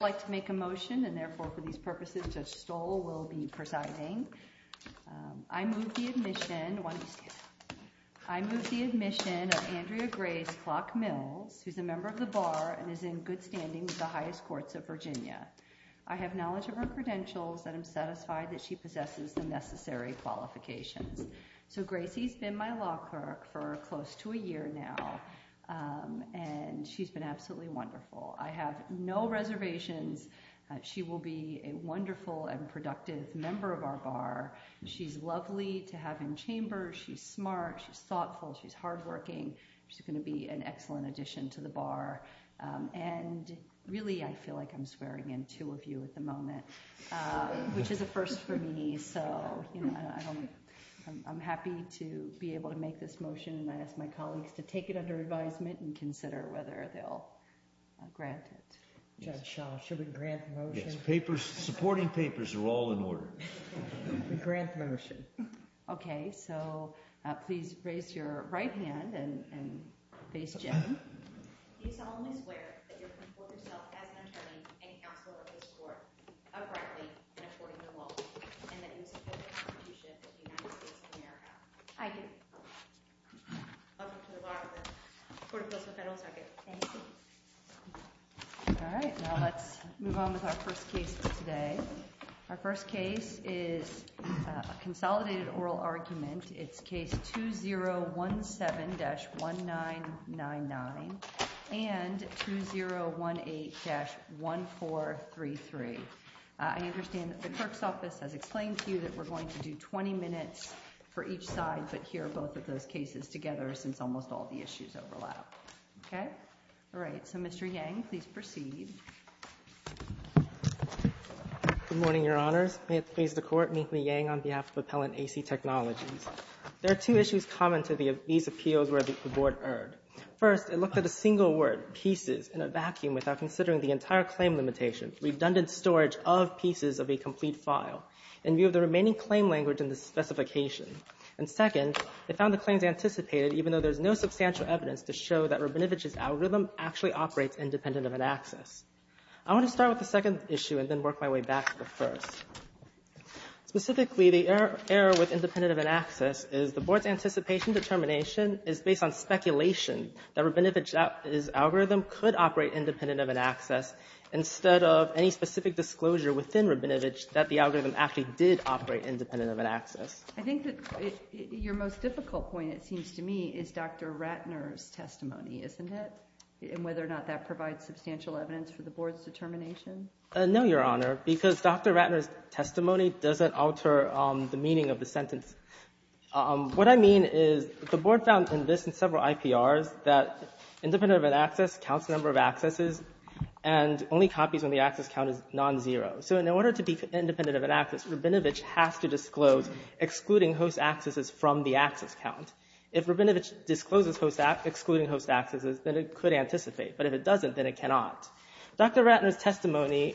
I'd like to make a motion, and therefore, for these purposes, Judge Stoll will be presiding. I move the admission of Andrea Grace Clock-Mills, who's a member of the Bar and is in good standing with the highest courts of Virginia. I have knowledge of her credentials and am satisfied that she possesses the necessary qualifications. So, Gracie's been my law clerk for close to a year now, and she's been absolutely wonderful. I have no reservations that she will be a wonderful and productive member of our Bar. She's lovely to have in chamber. She's smart. She's thoughtful. She's hardworking. She's going to be an excellent addition to the Bar. And, really, I feel like I'm swearing in two of you at the moment, which is a first for me. So, you know, I'm happy to be able to make this motion, and I ask my colleagues to take it under advisement and consider whether they'll grant it. Judge Shaw, should we grant the motion? Yes, papers, supporting papers are all in order. We grant the motion. Okay, so please raise your right hand and face Jim. Do you solemnly swear that you will report yourself as an attorney and counsel at this court, uprightly and according to the law, and that you will support the Constitution of the United States of America? I do. Welcome to the Bar of the Court of Appeals of the Federal Circuit. Thank you. All right, now let's move on with our first case of today. Our first case is a consolidated oral argument. It's case 2017-1999 and 2018-1433. I understand that the clerk's office has explained to you that we're going to do 20 minutes for each side but hear both of those cases together since almost all the issues overlap. Okay? All right, so Mr. Yang, please proceed. Good morning, Your Honors. May it please the Court, meet me, Yang, on behalf of Appellant A.C. Technologies. There are two issues common to these appeals where the board erred. First, it looked at a single word, pieces, in a vacuum without considering the entire claim limitation, redundant storage of pieces of a complete file, in view of the remaining claim language in the specification. And second, it found the claims anticipated even though there's no substantial evidence to show that Rabinovich's algorithm actually operates independent of an access. I want to start with the second issue and then work my way back to the first. Specifically, the error with independent of an access is the board's anticipation determination is based on speculation that Rabinovich's algorithm could operate independent of an access instead of any specific disclosure within Rabinovich that the algorithm actually did operate independent of an access. I think that your most difficult point, it seems to me, is Dr. Ratner's testimony, isn't it? And whether or not that provides substantial evidence for the board's determination. No, Your Honor, because Dr. Ratner's testimony doesn't alter the meaning of the sentence. What I mean is the board found in this and several IPRs that independent of an access counts the number of accesses and only copies when the access count is non-zero. So in order to be independent of an access, Rabinovich has to disclose excluding host accesses from the access count. If Rabinovich discloses excluding host accesses, then it could anticipate. But if it doesn't, then it cannot. Dr. Ratner's testimony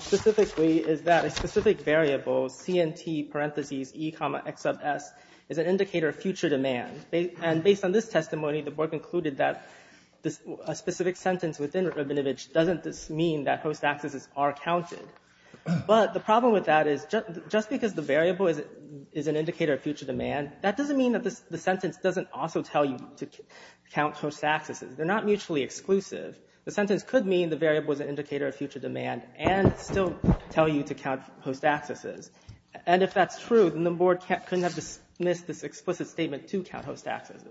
specifically is that a specific variable, CNT, parentheses, E, comma, X of S, is an indicator of future demand. And based on this testimony, the board concluded that a specific sentence within Rabinovich doesn't mean that host accesses are counted. But the problem with that is just because the variable is an indicator of future demand, that doesn't mean that the sentence doesn't also tell you to count host accesses. They're not mutually exclusive. The sentence could mean the variable is an indicator of future demand and still tell you to count host accesses. And if that's true, then the board couldn't have dismissed this explicit statement to count host accesses.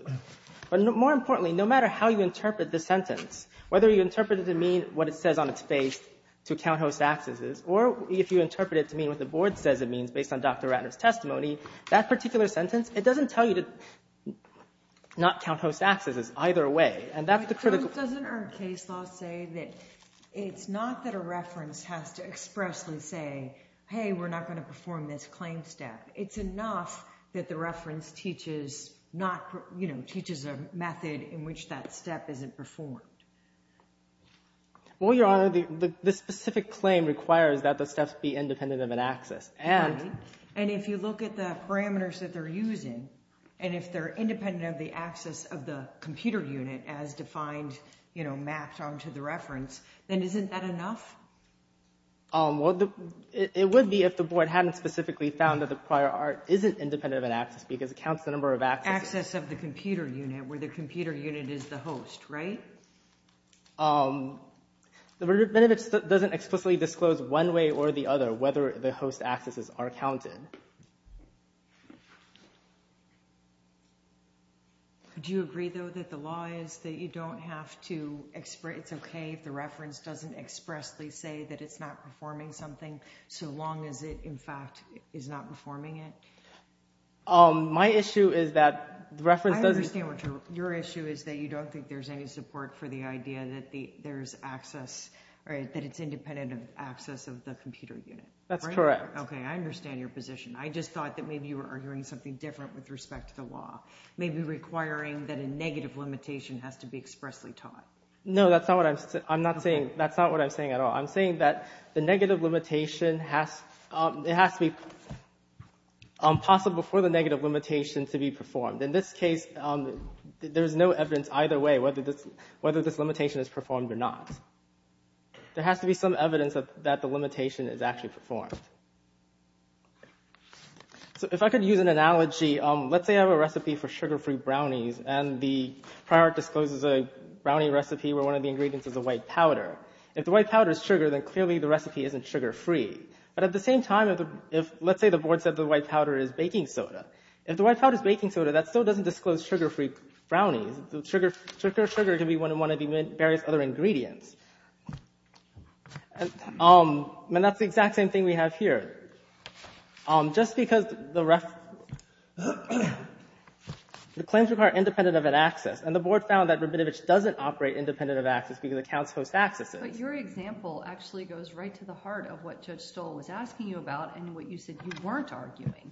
But more importantly, no matter how you interpret the sentence, whether you interpret it to mean what it says on its face to count host accesses, or if you interpret it to mean what the board says it means based on Dr. Ratner's testimony, that particular sentence, it doesn't tell you to not count host accesses either way. Doesn't our case law say that it's not that a reference has to expressly say, hey, we're not going to perform this claim step. It's enough that the reference teaches a method in which that step isn't performed. Well, Your Honor, the specific claim requires that the steps be independent of an access. And if you look at the parameters that they're using, and if they're independent of the access of the computer unit as defined, mapped onto the reference, then isn't that enough? It would be if the board hadn't specifically found that the prior art isn't independent of an access because it counts the number of accesses. Access of the computer unit where the computer unit is the host, right? The benefit doesn't explicitly disclose one way or the other whether the host accesses are counted. Do you agree, though, that the law is that you don't have to express, it's okay if the reference doesn't expressly say that it's not performing something so long as it, in fact, is not performing it? My issue is that the reference doesn't... I understand what your issue is, that you don't think there's any support for the idea that there's access, that it's independent of access of the computer unit. That's correct. Okay, I understand your position. I just thought that maybe you were arguing something different with respect to the law, maybe requiring that a negative limitation has to be expressly taught. No, that's not what I'm saying. That's not what I'm saying at all. I'm saying that the negative limitation has to be possible for the negative limitation to be performed. In this case, there's no evidence either way whether this limitation is performed or not. There has to be some evidence that the limitation is actually performed. If I could use an analogy, let's say I have a recipe for sugar-free brownies and the prior discloses a brownie recipe where one of the ingredients is a white powder. If the white powder is sugar, then clearly the recipe isn't sugar-free. But at the same time, let's say the board said the white powder is baking soda. If the white powder is baking soda, that still doesn't disclose sugar-free brownies. Sugar can be one of the various other ingredients. And that's the exact same thing we have here. Just because the claims require independent of an access, and the board found that Rabinovich doesn't operate independent of access because accounts host accesses. But your example actually goes right to the heart of what Judge Stoll was asking you about and what you said you weren't arguing.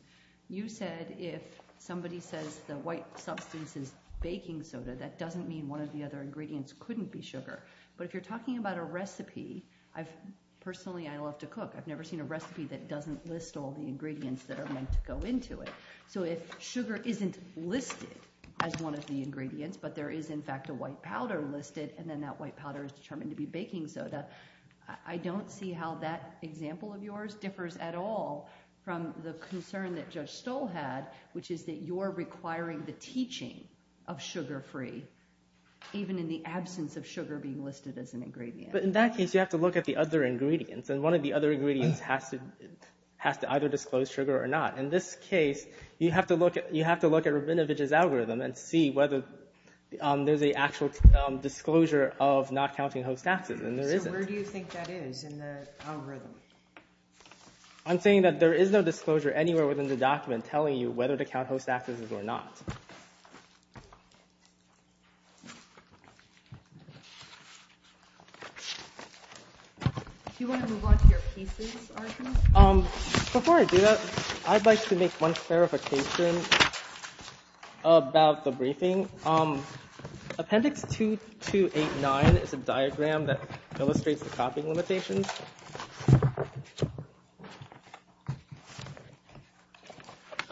You said if somebody says the white substance is baking soda, that doesn't mean one of the other ingredients couldn't be sugar. But if you're talking about a recipe, I've – personally, I love to cook. I've never seen a recipe that doesn't list all the ingredients that are meant to go into it. So if sugar isn't listed as one of the ingredients, but there is, in fact, a white powder listed, and then that white powder is determined to be baking soda, I don't see how that example of yours differs at all from the concern that Judge Stoll had, which is that you're requiring the teaching of sugar-free, even in the absence of sugar being listed as an ingredient. But in that case, you have to look at the other ingredients, and one of the other ingredients has to either disclose sugar or not. In this case, you have to look at Rabinovich's algorithm and see whether there's an actual disclosure of not counting host accesses, and there isn't. So where do you think that is in the algorithm? I'm saying that there is no disclosure anywhere within the document telling you whether to count host accesses or not. Do you want to move on to your pieces, Arjun? Before I do that, I'd like to make one clarification about the briefing. Appendix 2289 is a diagram that illustrates the copying limitations.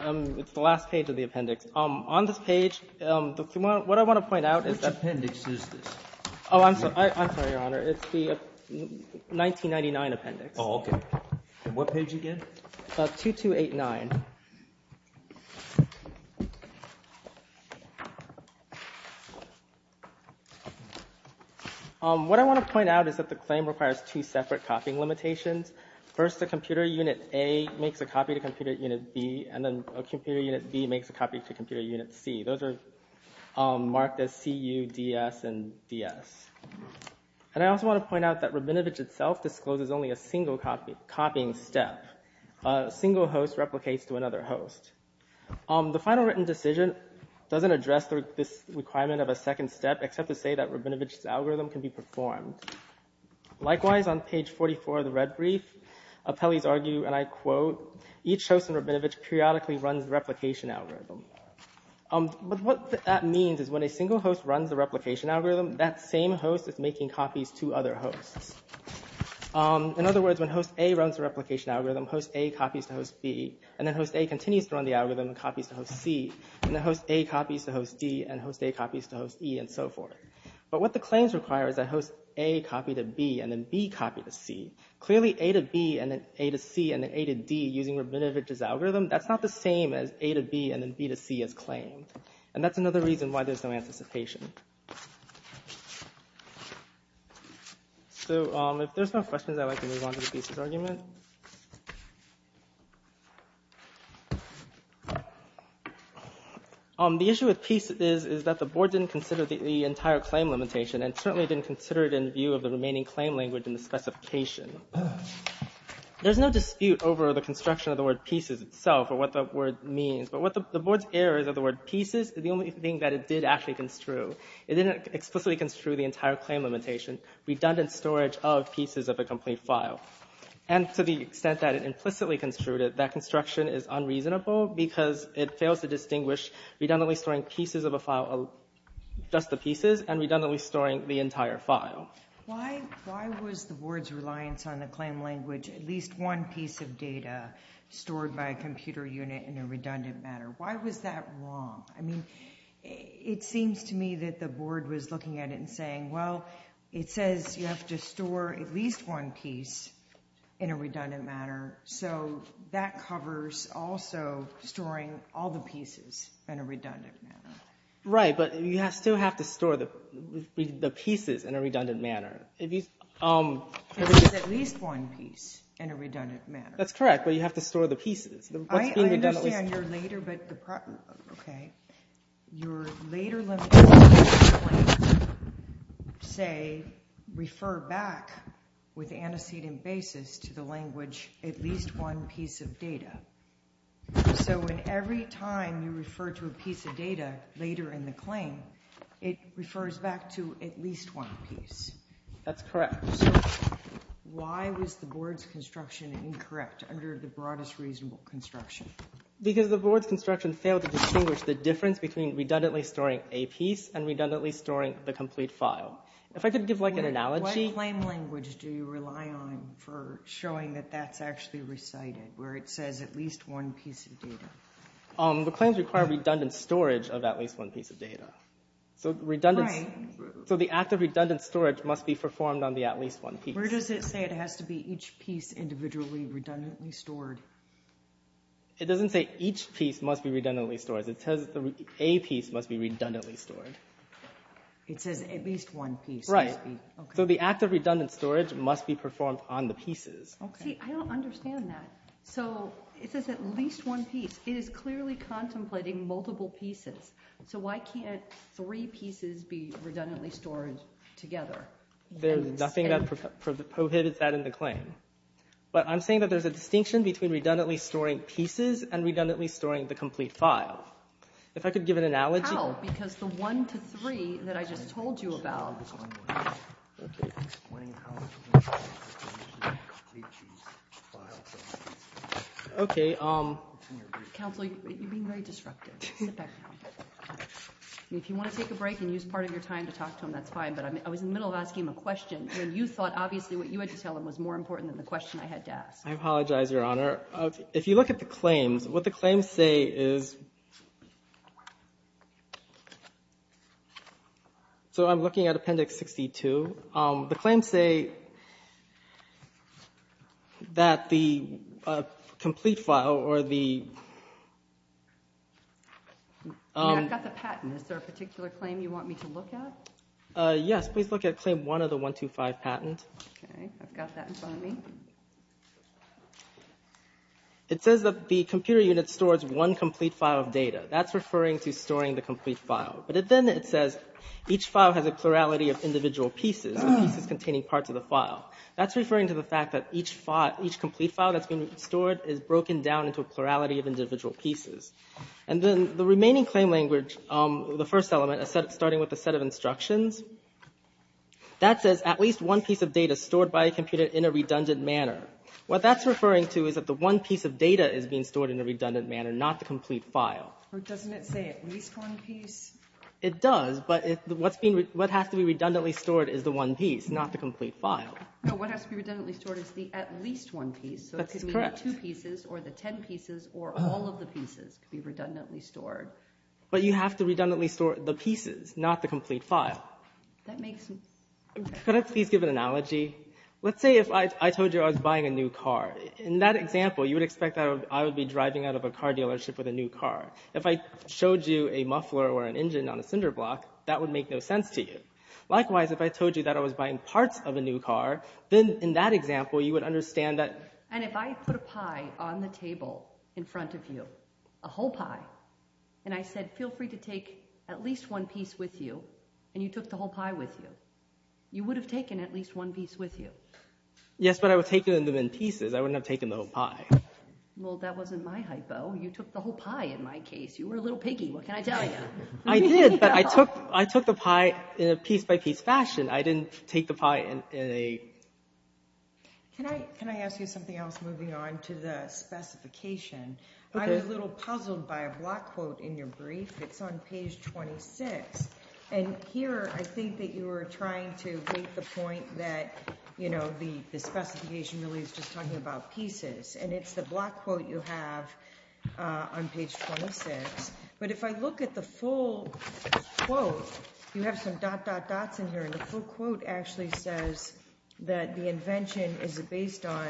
It's the last page of the appendix. On this page, what I want to point out is that— Which appendix is this? Oh, I'm sorry, Your Honor. It's the 1999 appendix. Oh, okay. What page again? 2289. What I want to point out is that the claim requires two separate copying limitations. First, a computer unit A makes a copy to computer unit B, and then a computer unit B makes a copy to computer unit C. Those are marked as C, U, D, S, and D, S. And I also want to point out that Rabinovich itself discloses only a single copying step. A single host replicates to another host. The final written decision doesn't address this requirement of a second step, except to say that Rabinovich's algorithm can be performed. Likewise, on page 44 of the red brief, appellees argue, and I quote, Each host in Rabinovich periodically runs the replication algorithm. But what that means is when a single host runs the replication algorithm, that same host is making copies to other hosts. In other words, when host A runs the replication algorithm, host A copies to host B, and then host A continues to run the algorithm and copies to host C, and then host A copies to host D, and host A copies to host E, and so forth. But what the claims require is that host A copy to B, and then B copy to C. Clearly, A to B, and then A to C, and then A to D, using Rabinovich's algorithm, that's not the same as A to B, and then B to C as claimed. And that's another reason why there's no anticipation. So, if there's no questions, I'd like to move on to the pieces argument. The issue with pieces is that the board didn't consider the entire claim limitation, and certainly didn't consider it in view of the remaining claim language in the specification. There's no dispute over the construction of the word pieces itself, or what the word means, but the board's error is that the word pieces is the only thing that it did actually construe. It didn't explicitly construe the entire claim limitation, redundant storage of pieces of a complete file. And to the extent that it implicitly construed it, that construction is unreasonable because it fails to distinguish redundantly storing pieces of a file, just the pieces, and redundantly storing the entire file. Why was the board's reliance on the claim language at least one piece of data stored by a computer unit in a redundant manner? Why was that wrong? I mean, it seems to me that the board was looking at it and saying, well, it says you have to store at least one piece in a redundant manner, so that covers also storing all the pieces in a redundant manner. Right, but you still have to store the pieces in a redundant manner. It says at least one piece in a redundant manner. I understand you're later, but the problem, okay. Your later limitations in the claim say, refer back with antecedent basis to the language at least one piece of data. So in every time you refer to a piece of data later in the claim, it refers back to at least one piece. That's correct. Why was the board's construction incorrect under the broadest reasonable construction? Because the board's construction failed to distinguish the difference between redundantly storing a piece and redundantly storing the complete file. If I could give, like, an analogy. What claim language do you rely on for showing that that's actually recited, where it says at least one piece of data? The claims require redundant storage of at least one piece of data. So the act of redundant storage must be performed on the at least one piece. Where does it say it has to be each piece individually redundantly stored? It doesn't say each piece must be redundantly stored. It says a piece must be redundantly stored. It says at least one piece must be. Right, so the act of redundant storage must be performed on the pieces. See, I don't understand that. So it says at least one piece. It is clearly contemplating multiple pieces. So why can't three pieces be redundantly stored together? There's nothing that prohibits that in the claim. But I'm saying that there's a distinction between redundantly storing pieces and redundantly storing the complete file. If I could give an analogy. How? Because the one to three that I just told you about. Okay. Okay. Counsel, you're being very disruptive. Sit back down. If you want to take a break and use part of your time to talk to him, that's fine. But I was in the middle of asking him a question, and you thought obviously what you had to tell him was more important than the question I had to ask. I apologize, Your Honor. If you look at the claims, what the claims say is. So I'm looking at Appendix 62. The claims say that the complete file or the. I've got the patent. Is there a particular claim you want me to look at? Yes. Please look at Claim 1 of the 125 patent. Okay. I've got that in front of me. It says that the computer unit stores one complete file of data. That's referring to storing the complete file. But then it says each file has a plurality of individual pieces, pieces containing parts of the file. That's referring to the fact that each complete file that's been stored is broken down into a plurality of individual pieces. And then the remaining claim language, the first element, starting with a set of instructions, that says at least one piece of data stored by a computer in a redundant manner. What that's referring to is that the one piece of data is being stored in a redundant manner, not the complete file. Or doesn't it say at least one piece? It does, but what has to be redundantly stored is the one piece, not the complete file. No, what has to be redundantly stored is the at least one piece. That's correct. So it could be the two pieces or the ten pieces or all of the pieces could be redundantly stored. But you have to redundantly store the pieces, not the complete file. That makes sense. Could I please give an analogy? Let's say if I told you I was buying a new car. In that example, you would expect that I would be driving out of a car dealership with a new car. If I showed you a muffler or an engine on a cinder block, that would make no sense to you. Likewise, if I told you that I was buying parts of a new car, then in that example you would understand that. And if I put a pie on the table in front of you, a whole pie, and I said feel free to take at least one piece with you, and you took the whole pie with you, you would have taken at least one piece with you. Yes, but I would have taken them in pieces. I wouldn't have taken the whole pie. Well, that wasn't my hypo. You took the whole pie in my case. You were a little piggy. What can I tell you? I did, but I took the pie in a piece-by-piece fashion. I didn't take the pie in a… Can I ask you something else moving on to the specification? I was a little puzzled by a block quote in your brief. It's on page 26. And here I think that you were trying to make the point that, you know, the specification really is just talking about pieces, and it's the block quote you have on page 26. But if I look at the full quote, you have some dot, dot, dots in here, and the full quote actually says that the invention is based on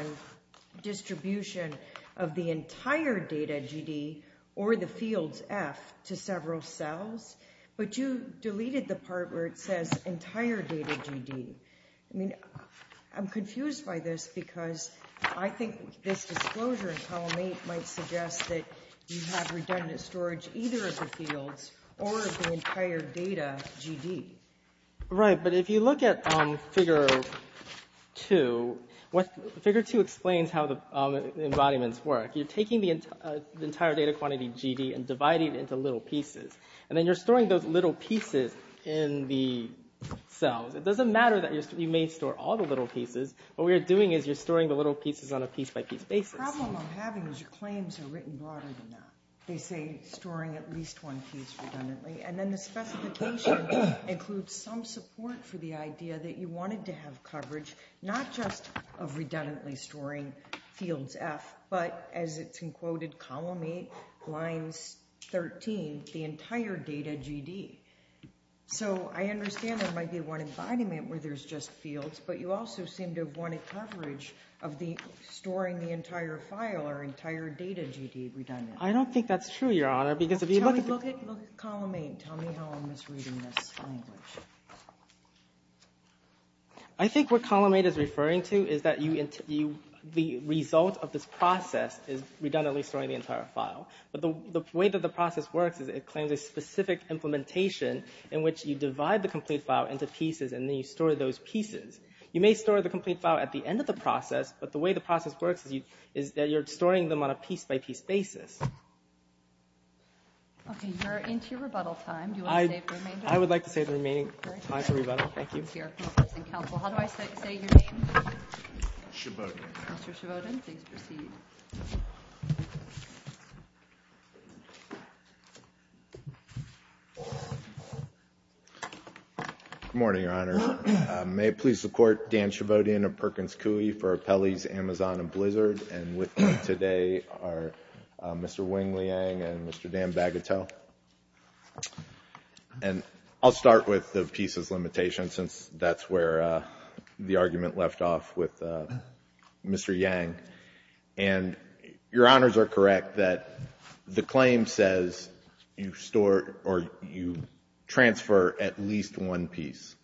distribution of the entire data GD or the fields F to several cells. But you deleted the part where it says entire data GD. I mean, I'm confused by this because I think this disclosure in column 8 might suggest that you have redundant storage either of the fields or of the entire data GD. Right, but if you look at figure 2, figure 2 explains how the embodiments work. You're taking the entire data quantity GD and dividing it into little pieces. And then you're storing those little pieces in the cells. It doesn't matter that you may store all the little pieces. What we're doing is you're storing the little pieces on a piece-by-piece basis. The problem I'm having is your claims are written broader than that. They say storing at least one piece redundantly. And then the specification includes some support for the idea that you wanted to have coverage not just of redundantly storing fields F, but as it's in quoted column 8, lines 13, the entire data GD. So I understand there might be one embodiment where there's just fields, but you also seem to have wanted coverage of storing the entire file or entire data GD redundantly. I don't think that's true, Your Honor, because if you look at column 8, tell me how I'm misreading this language. I think what column 8 is referring to is that the result of this process is redundantly storing the entire file. But the way that the process works is it claims a specific implementation in which you divide the complete file into pieces, and then you store those pieces. You may store the complete file at the end of the process, but the way the process works is that you're storing them on a piece-by-piece basis. Okay, you're into your rebuttal time. Do you want to say the remainder? I would like to say the remaining time for rebuttal. Thank you. How do I say your name? Shabodin. Mr. Shabodin, please proceed. Good morning, Your Honor. May it please the Court, Dan Shabodin of Perkins Coie for Appellees Amazon and Blizzard, and with me today are Mr. Wing-Liang and Mr. Dan Bagateau. And I'll start with the pieces limitation, since that's where the argument left off with Mr. Yang. And Your Honors are correct that the claim says you store or you transfer at least one piece.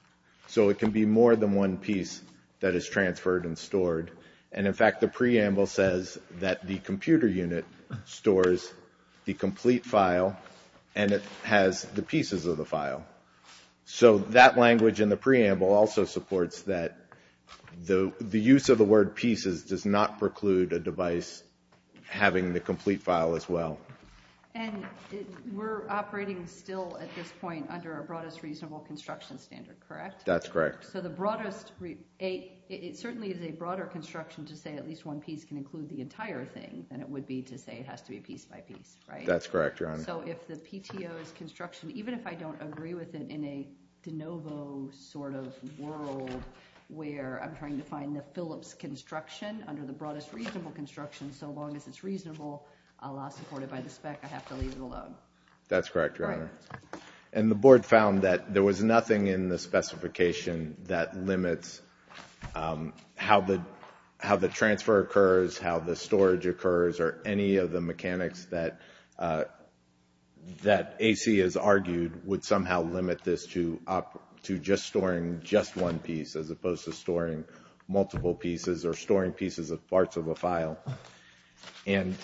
So it can be more than one piece that is transferred and stored. And, in fact, the preamble says that the computer unit stores the complete file and it has the pieces of the file. So that language in the preamble also supports that the use of the word pieces does not preclude a device having the complete file as well. And we're operating still at this point under a broadest reasonable construction standard, correct? That's correct. So it certainly is a broader construction to say at least one piece can include the entire thing than it would be to say it has to be piece by piece, right? That's correct, Your Honor. So if the PTO's construction, even if I don't agree with it in a de novo sort of world where I'm trying to find the Phillips construction under the broadest reasonable construction so long as it's reasonable, a la supported by the spec, I have to leave it alone. That's correct, Your Honor. And the board found that there was nothing in the specification that limits how the transfer occurs, how the storage occurs, or any of the mechanics that AC has argued would somehow limit this to just storing just one piece as opposed to storing multiple pieces or storing pieces of parts of a file. And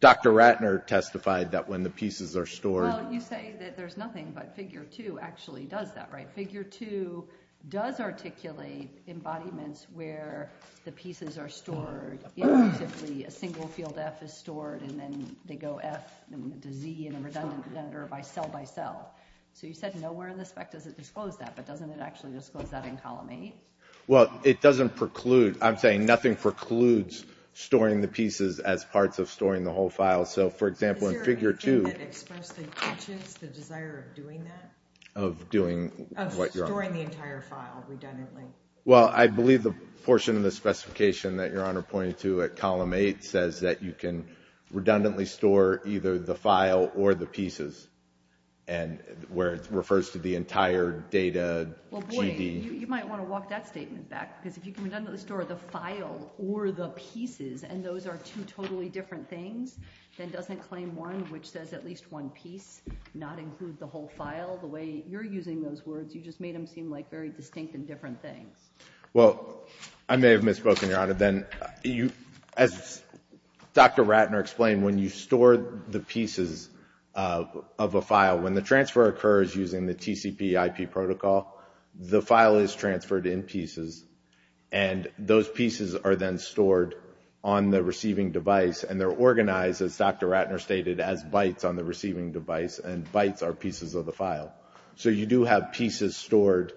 Dr. Ratner testified that when the pieces are stored Well, you say that there's nothing, but Figure 2 actually does that, right? Figure 2 does articulate embodiments where the pieces are stored. Typically, a single field F is stored, and then they go F to Z in a redundant pedometer by cell by cell. So you said nowhere in the spec does it disclose that, but doesn't it actually disclose that in Column 8? Well, it doesn't preclude, I'm saying nothing precludes storing the pieces as parts of storing the whole file. So, for example, in Figure 2 Is there anything that expressed the interest, the desire of doing that? Of doing what, Your Honor? Of storing the entire file redundantly. Well, I believe the portion of the specification that Your Honor pointed to at Column 8 says that you can redundantly store either the file or the pieces, where it refers to the entire data, GD. Well, boy, you might want to walk that statement back, because if you can redundantly store the file or the pieces, and those are two totally different things, then doesn't Claim 1, which says at least one piece, not include the whole file? The way you're using those words, you just made them seem like very distinct and different things. Well, I may have misspoken, Your Honor, then. As Dr. Ratner explained, when you store the pieces of a file, when the transfer occurs using the TCP IP protocol, the file is transferred in pieces, and those pieces are then stored on the receiving device, and they're organized, as Dr. Ratner stated, as bytes on the receiving device, and bytes are pieces of the file. So you do have pieces stored.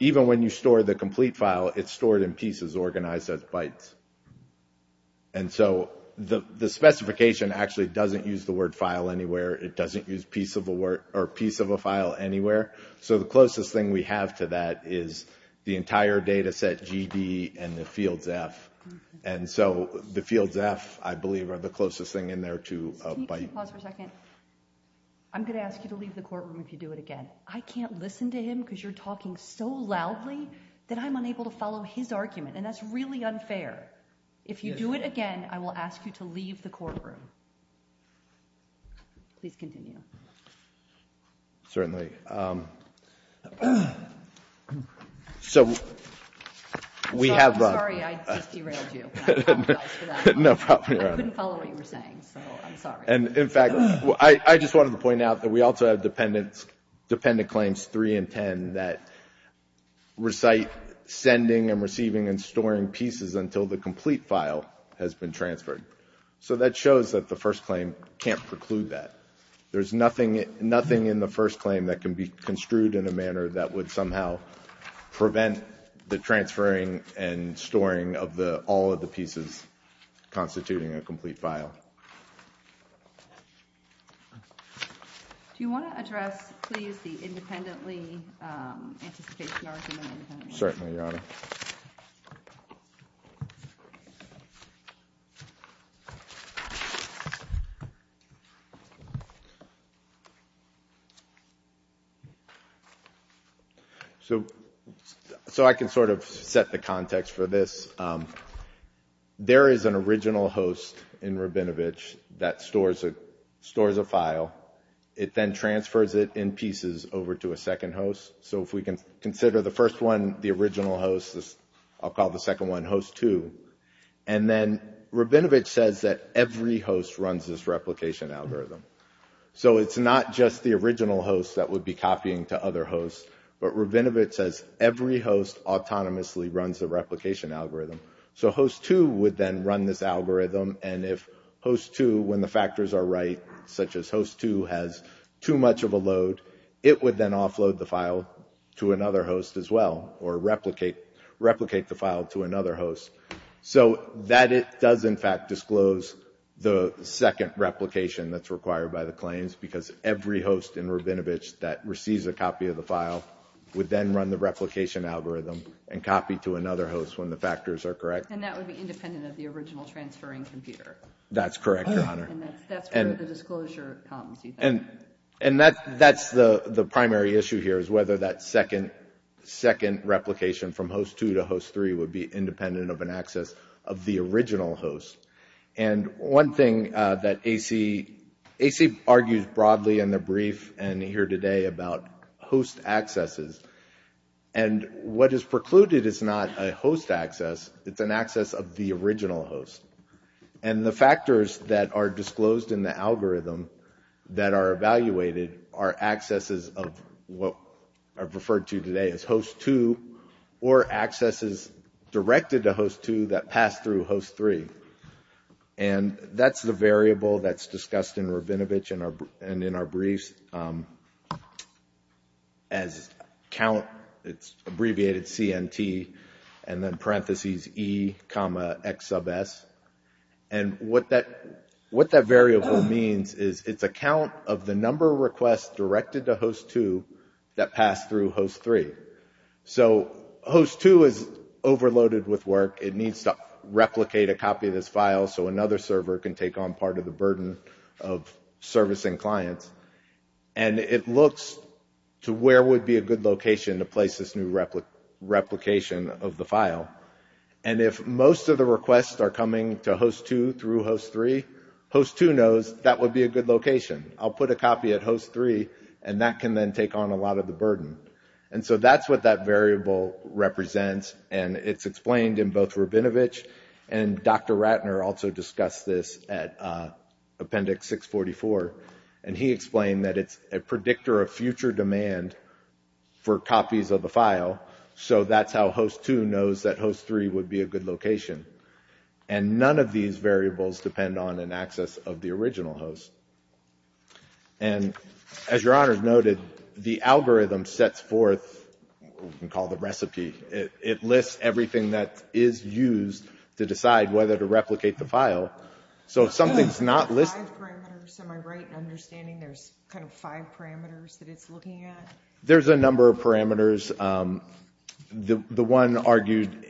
Even when you store the complete file, it's stored in pieces organized as bytes. And so the specification actually doesn't use the word file anywhere. It doesn't use piece of a file anywhere. So the closest thing we have to that is the entire data set GD and the fields F. And so the fields F, I believe, are the closest thing in there to a byte. Can you pause for a second? I'm going to ask you to leave the courtroom if you do it again. I can't listen to him because you're talking so loudly that I'm unable to follow his argument, and that's really unfair. If you do it again, I will ask you to leave the courtroom. Please continue. Certainly. So we have a ‑‑ I'm sorry. I just derailed you. No problem, Your Honor. I couldn't follow what you were saying, so I'm sorry. And, in fact, I just wanted to point out that we also have dependent claims 3 and 10 that recite sending and receiving and storing pieces until the complete file has been transferred. So that shows that the first claim can't preclude that. There's nothing in the first claim that can be construed in a manner that would somehow prevent the transferring and storing of all of the pieces constituting a complete file. Do you want to address, please, the independently anticipation argument? Certainly, Your Honor. Thank you. So I can sort of set the context for this. There is an original host in Rabinovich that stores a file. It then transfers it in pieces over to a second host. So if we can consider the first one the original host, I'll call the second one host 2. And then Rabinovich says that every host runs this replication algorithm. So it's not just the original host that would be copying to other hosts, but Rabinovich says every host autonomously runs the replication algorithm. So host 2 would then run this algorithm, and if host 2, when the factors are right, such as host 2 has too much of a load, it would then offload the file to another host as well or replicate the file to another host. So that does, in fact, disclose the second replication that's required by the claims because every host in Rabinovich that receives a copy of the file would then run the replication algorithm and copy to another host when the factors are correct. And that would be independent of the original transferring computer. That's correct, Your Honor. And that's where the disclosure comes, you think. And that's the primary issue here is whether that second replication from host 2 to host 3 would be independent of an access of the original host. And one thing that AC argues broadly in the brief and here today about host accesses, and what is precluded is not a host access, it's an access of the original host. And the factors that are disclosed in the algorithm that are evaluated are accesses of what I've referred to today as host 2 or accesses directed to host 2 that pass through host 3. And that's the variable that's discussed in Rabinovich and in our briefs as count, it's abbreviated CNT, and then parentheses E comma X sub S. And what that variable means is it's a count of the number of requests directed to host 2 that pass through host 3. So host 2 is overloaded with work. It needs to replicate a copy of this file so another server can take on part of the burden of servicing clients. And it looks to where would be a good location to place this new replication of the file. And if most of the requests are coming to host 2 through host 3, host 2 knows that would be a good location. I'll put a copy at host 3 and that can then take on a lot of the burden. And so that's what that variable represents and it's explained in both Rabinovich and Dr. Ratner also discussed this at appendix 644. And he explained that it's a predictor of future demand for copies of the file. So that's how host 2 knows that host 3 would be a good location. And none of these variables depend on an access of the original host. And as your honors noted, the algorithm sets forth what we call the recipe. It lists everything that is used to decide whether to replicate the file. So if something's not listed... Five parameters, am I right in understanding there's kind of five parameters that it's looking at? There's a number of parameters. The one argued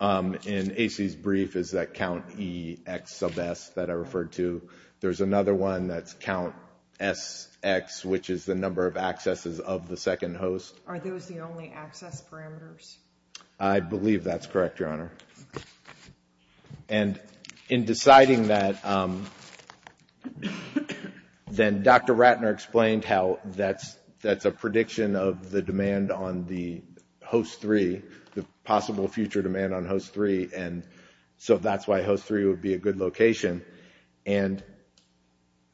in AC's brief is that count EX sub S that I referred to. There's another one that's count SX which is the number of accesses of the second host. Are those the only access parameters? I believe that's correct, your honor. And in deciding that, then Dr. Ratner explained how that's a prediction of the demand on the host 3, the possible future demand on host 3, and so that's why host 3 would be a good location. And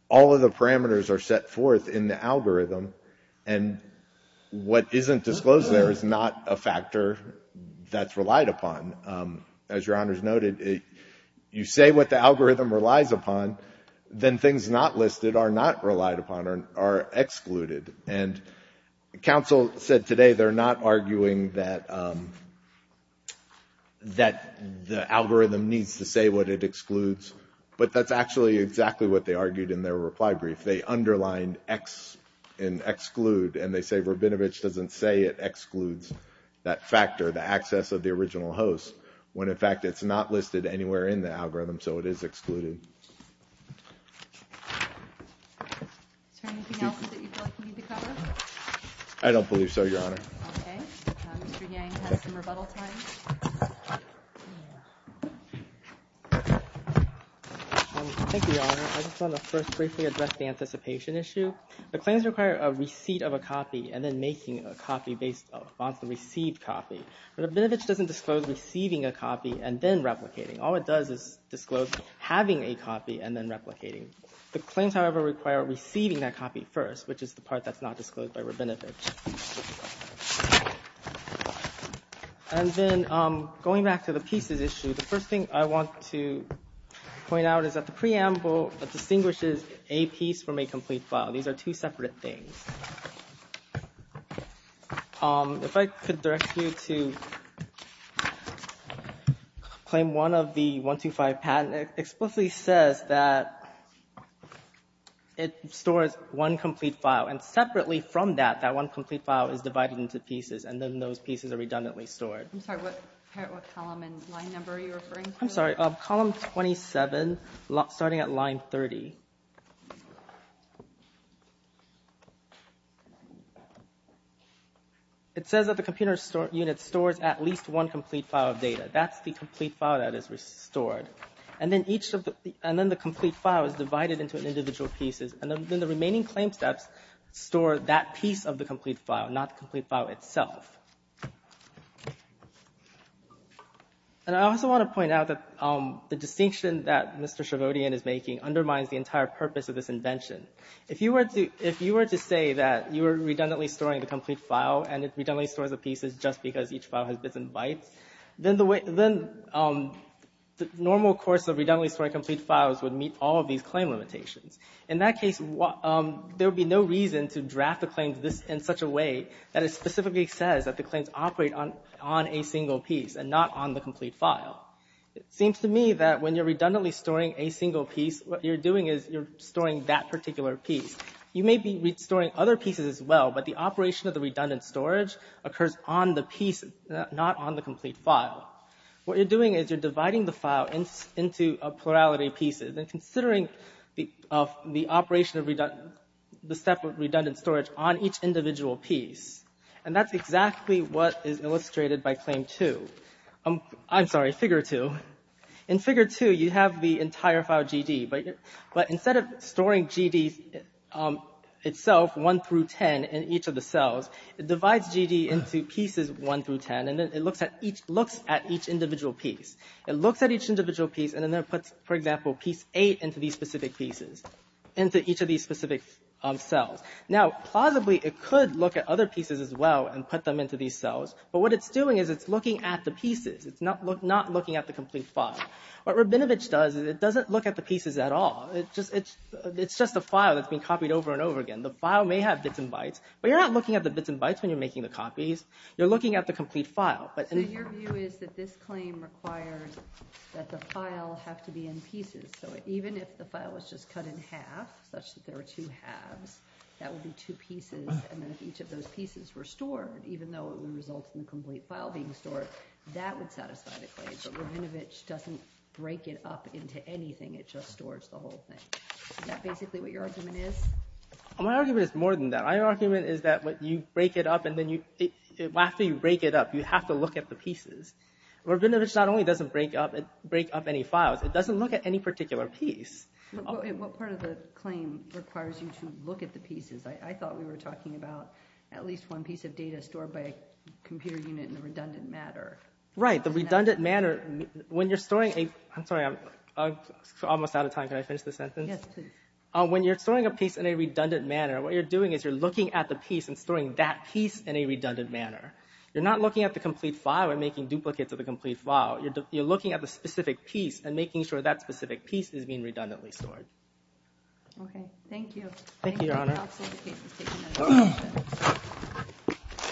all of the parameters are set forth in the algorithm. And what isn't disclosed there is not a factor that's relied upon. As your honors noted, you say what the algorithm relies upon, then things not listed are not relied upon or excluded. And counsel said today they're not arguing that the algorithm needs to say what it excludes, but that's actually exactly what they argued in their reply brief. They underlined EX and exclude, and they say Rabinovich doesn't say it excludes that factor, the access of the original host, when in fact it's not listed anywhere in the algorithm, so it is excluded. Is there anything else that you feel like you need to cover? I don't believe so, your honor. Okay. Mr. Yang has some rebuttal time. Thank you, your honor. I just want to first briefly address the anticipation issue. The claims require a receipt of a copy and then making a copy based on the received copy. Rabinovich doesn't disclose receiving a copy and then replicating. All it does is disclose having a copy and then replicating. The claims, however, require receiving that copy first, which is the part that's not disclosed by Rabinovich. And then going back to the pieces issue, the first thing I want to point out is that the preamble distinguishes a piece from a complete file. These are two separate things. If I could direct you to claim one of the 125 patents, it explicitly says that it stores one complete file, and separately from that, that one complete file is divided into pieces, and then those pieces are redundantly stored. I'm sorry. What column and line number are you referring to? I'm sorry. Column 27, starting at line 30. It says that the computer unit stores at least one complete file of data. That's the complete file that is restored. And then the complete file is divided into individual pieces. And then the remaining claim steps store that piece of the complete file, not the complete file itself. And I also want to point out that the distinction that Mr. Shavodian is making undermines the entire purpose of this invention. If you were to say that you were redundantly storing the complete file and it redundantly stores the pieces just because each file has bits and bytes, then the normal course of redundantly storing complete files would meet all of these claim limitations. In that case, there would be no reason to draft the claims in such a way that it specifically says that the claims operate on a single piece and not on the complete file. It seems to me that when you're redundantly storing a single piece, what you're doing is you're storing that particular piece. You may be restoring other pieces as well, but the operation of the redundant storage occurs on the piece, not on the complete file. What you're doing is you're dividing the file into a plurality of pieces. And considering the operation of the step of redundant storage on each individual piece, and that's exactly what is illustrated by claim 2. I'm sorry, figure 2. In figure 2, you have the entire file GD, but instead of storing GD itself, 1 through 10, in each of the cells, it divides GD into pieces 1 through 10, and then it looks at each individual piece. It looks at each individual piece, and then it puts, for example, piece 8 into these specific pieces, into each of these specific cells. Now, plausibly, it could look at other pieces as well and put them into these cells, but what it's doing is it's looking at the pieces. It's not looking at the complete file. What Rabinovich does is it doesn't look at the pieces at all. It's just a file that's been copied over and over again. The file may have bits and bytes, but you're not looking at the bits and bytes when you're making the copies. You're looking at the complete file. So your view is that this claim requires that the file have to be in pieces, so even if the file was just cut in half, such that there were two halves, that would be two pieces, and then if each of those pieces were stored, even though it would result in the complete file being stored, that would satisfy the claim, but Rabinovich doesn't break it up into anything. It just stores the whole thing. Is that basically what your argument is? My argument is more than that. My argument is that after you break it up, you have to look at the pieces. Rabinovich not only doesn't break up any files, it doesn't look at any particular piece. What part of the claim requires you to look at the pieces? I thought we were talking about at least one piece of data stored by a computer unit in the redundant manner. Right, the redundant manner. When you're storing a piece in a redundant manner, what you're doing is you're looking at the piece and storing that piece in a redundant manner. You're not looking at the complete file and making duplicates of the complete file. You're looking at the specific piece and making sure that specific piece is being redundantly stored. Okay, thank you. Thank you, Your Honor.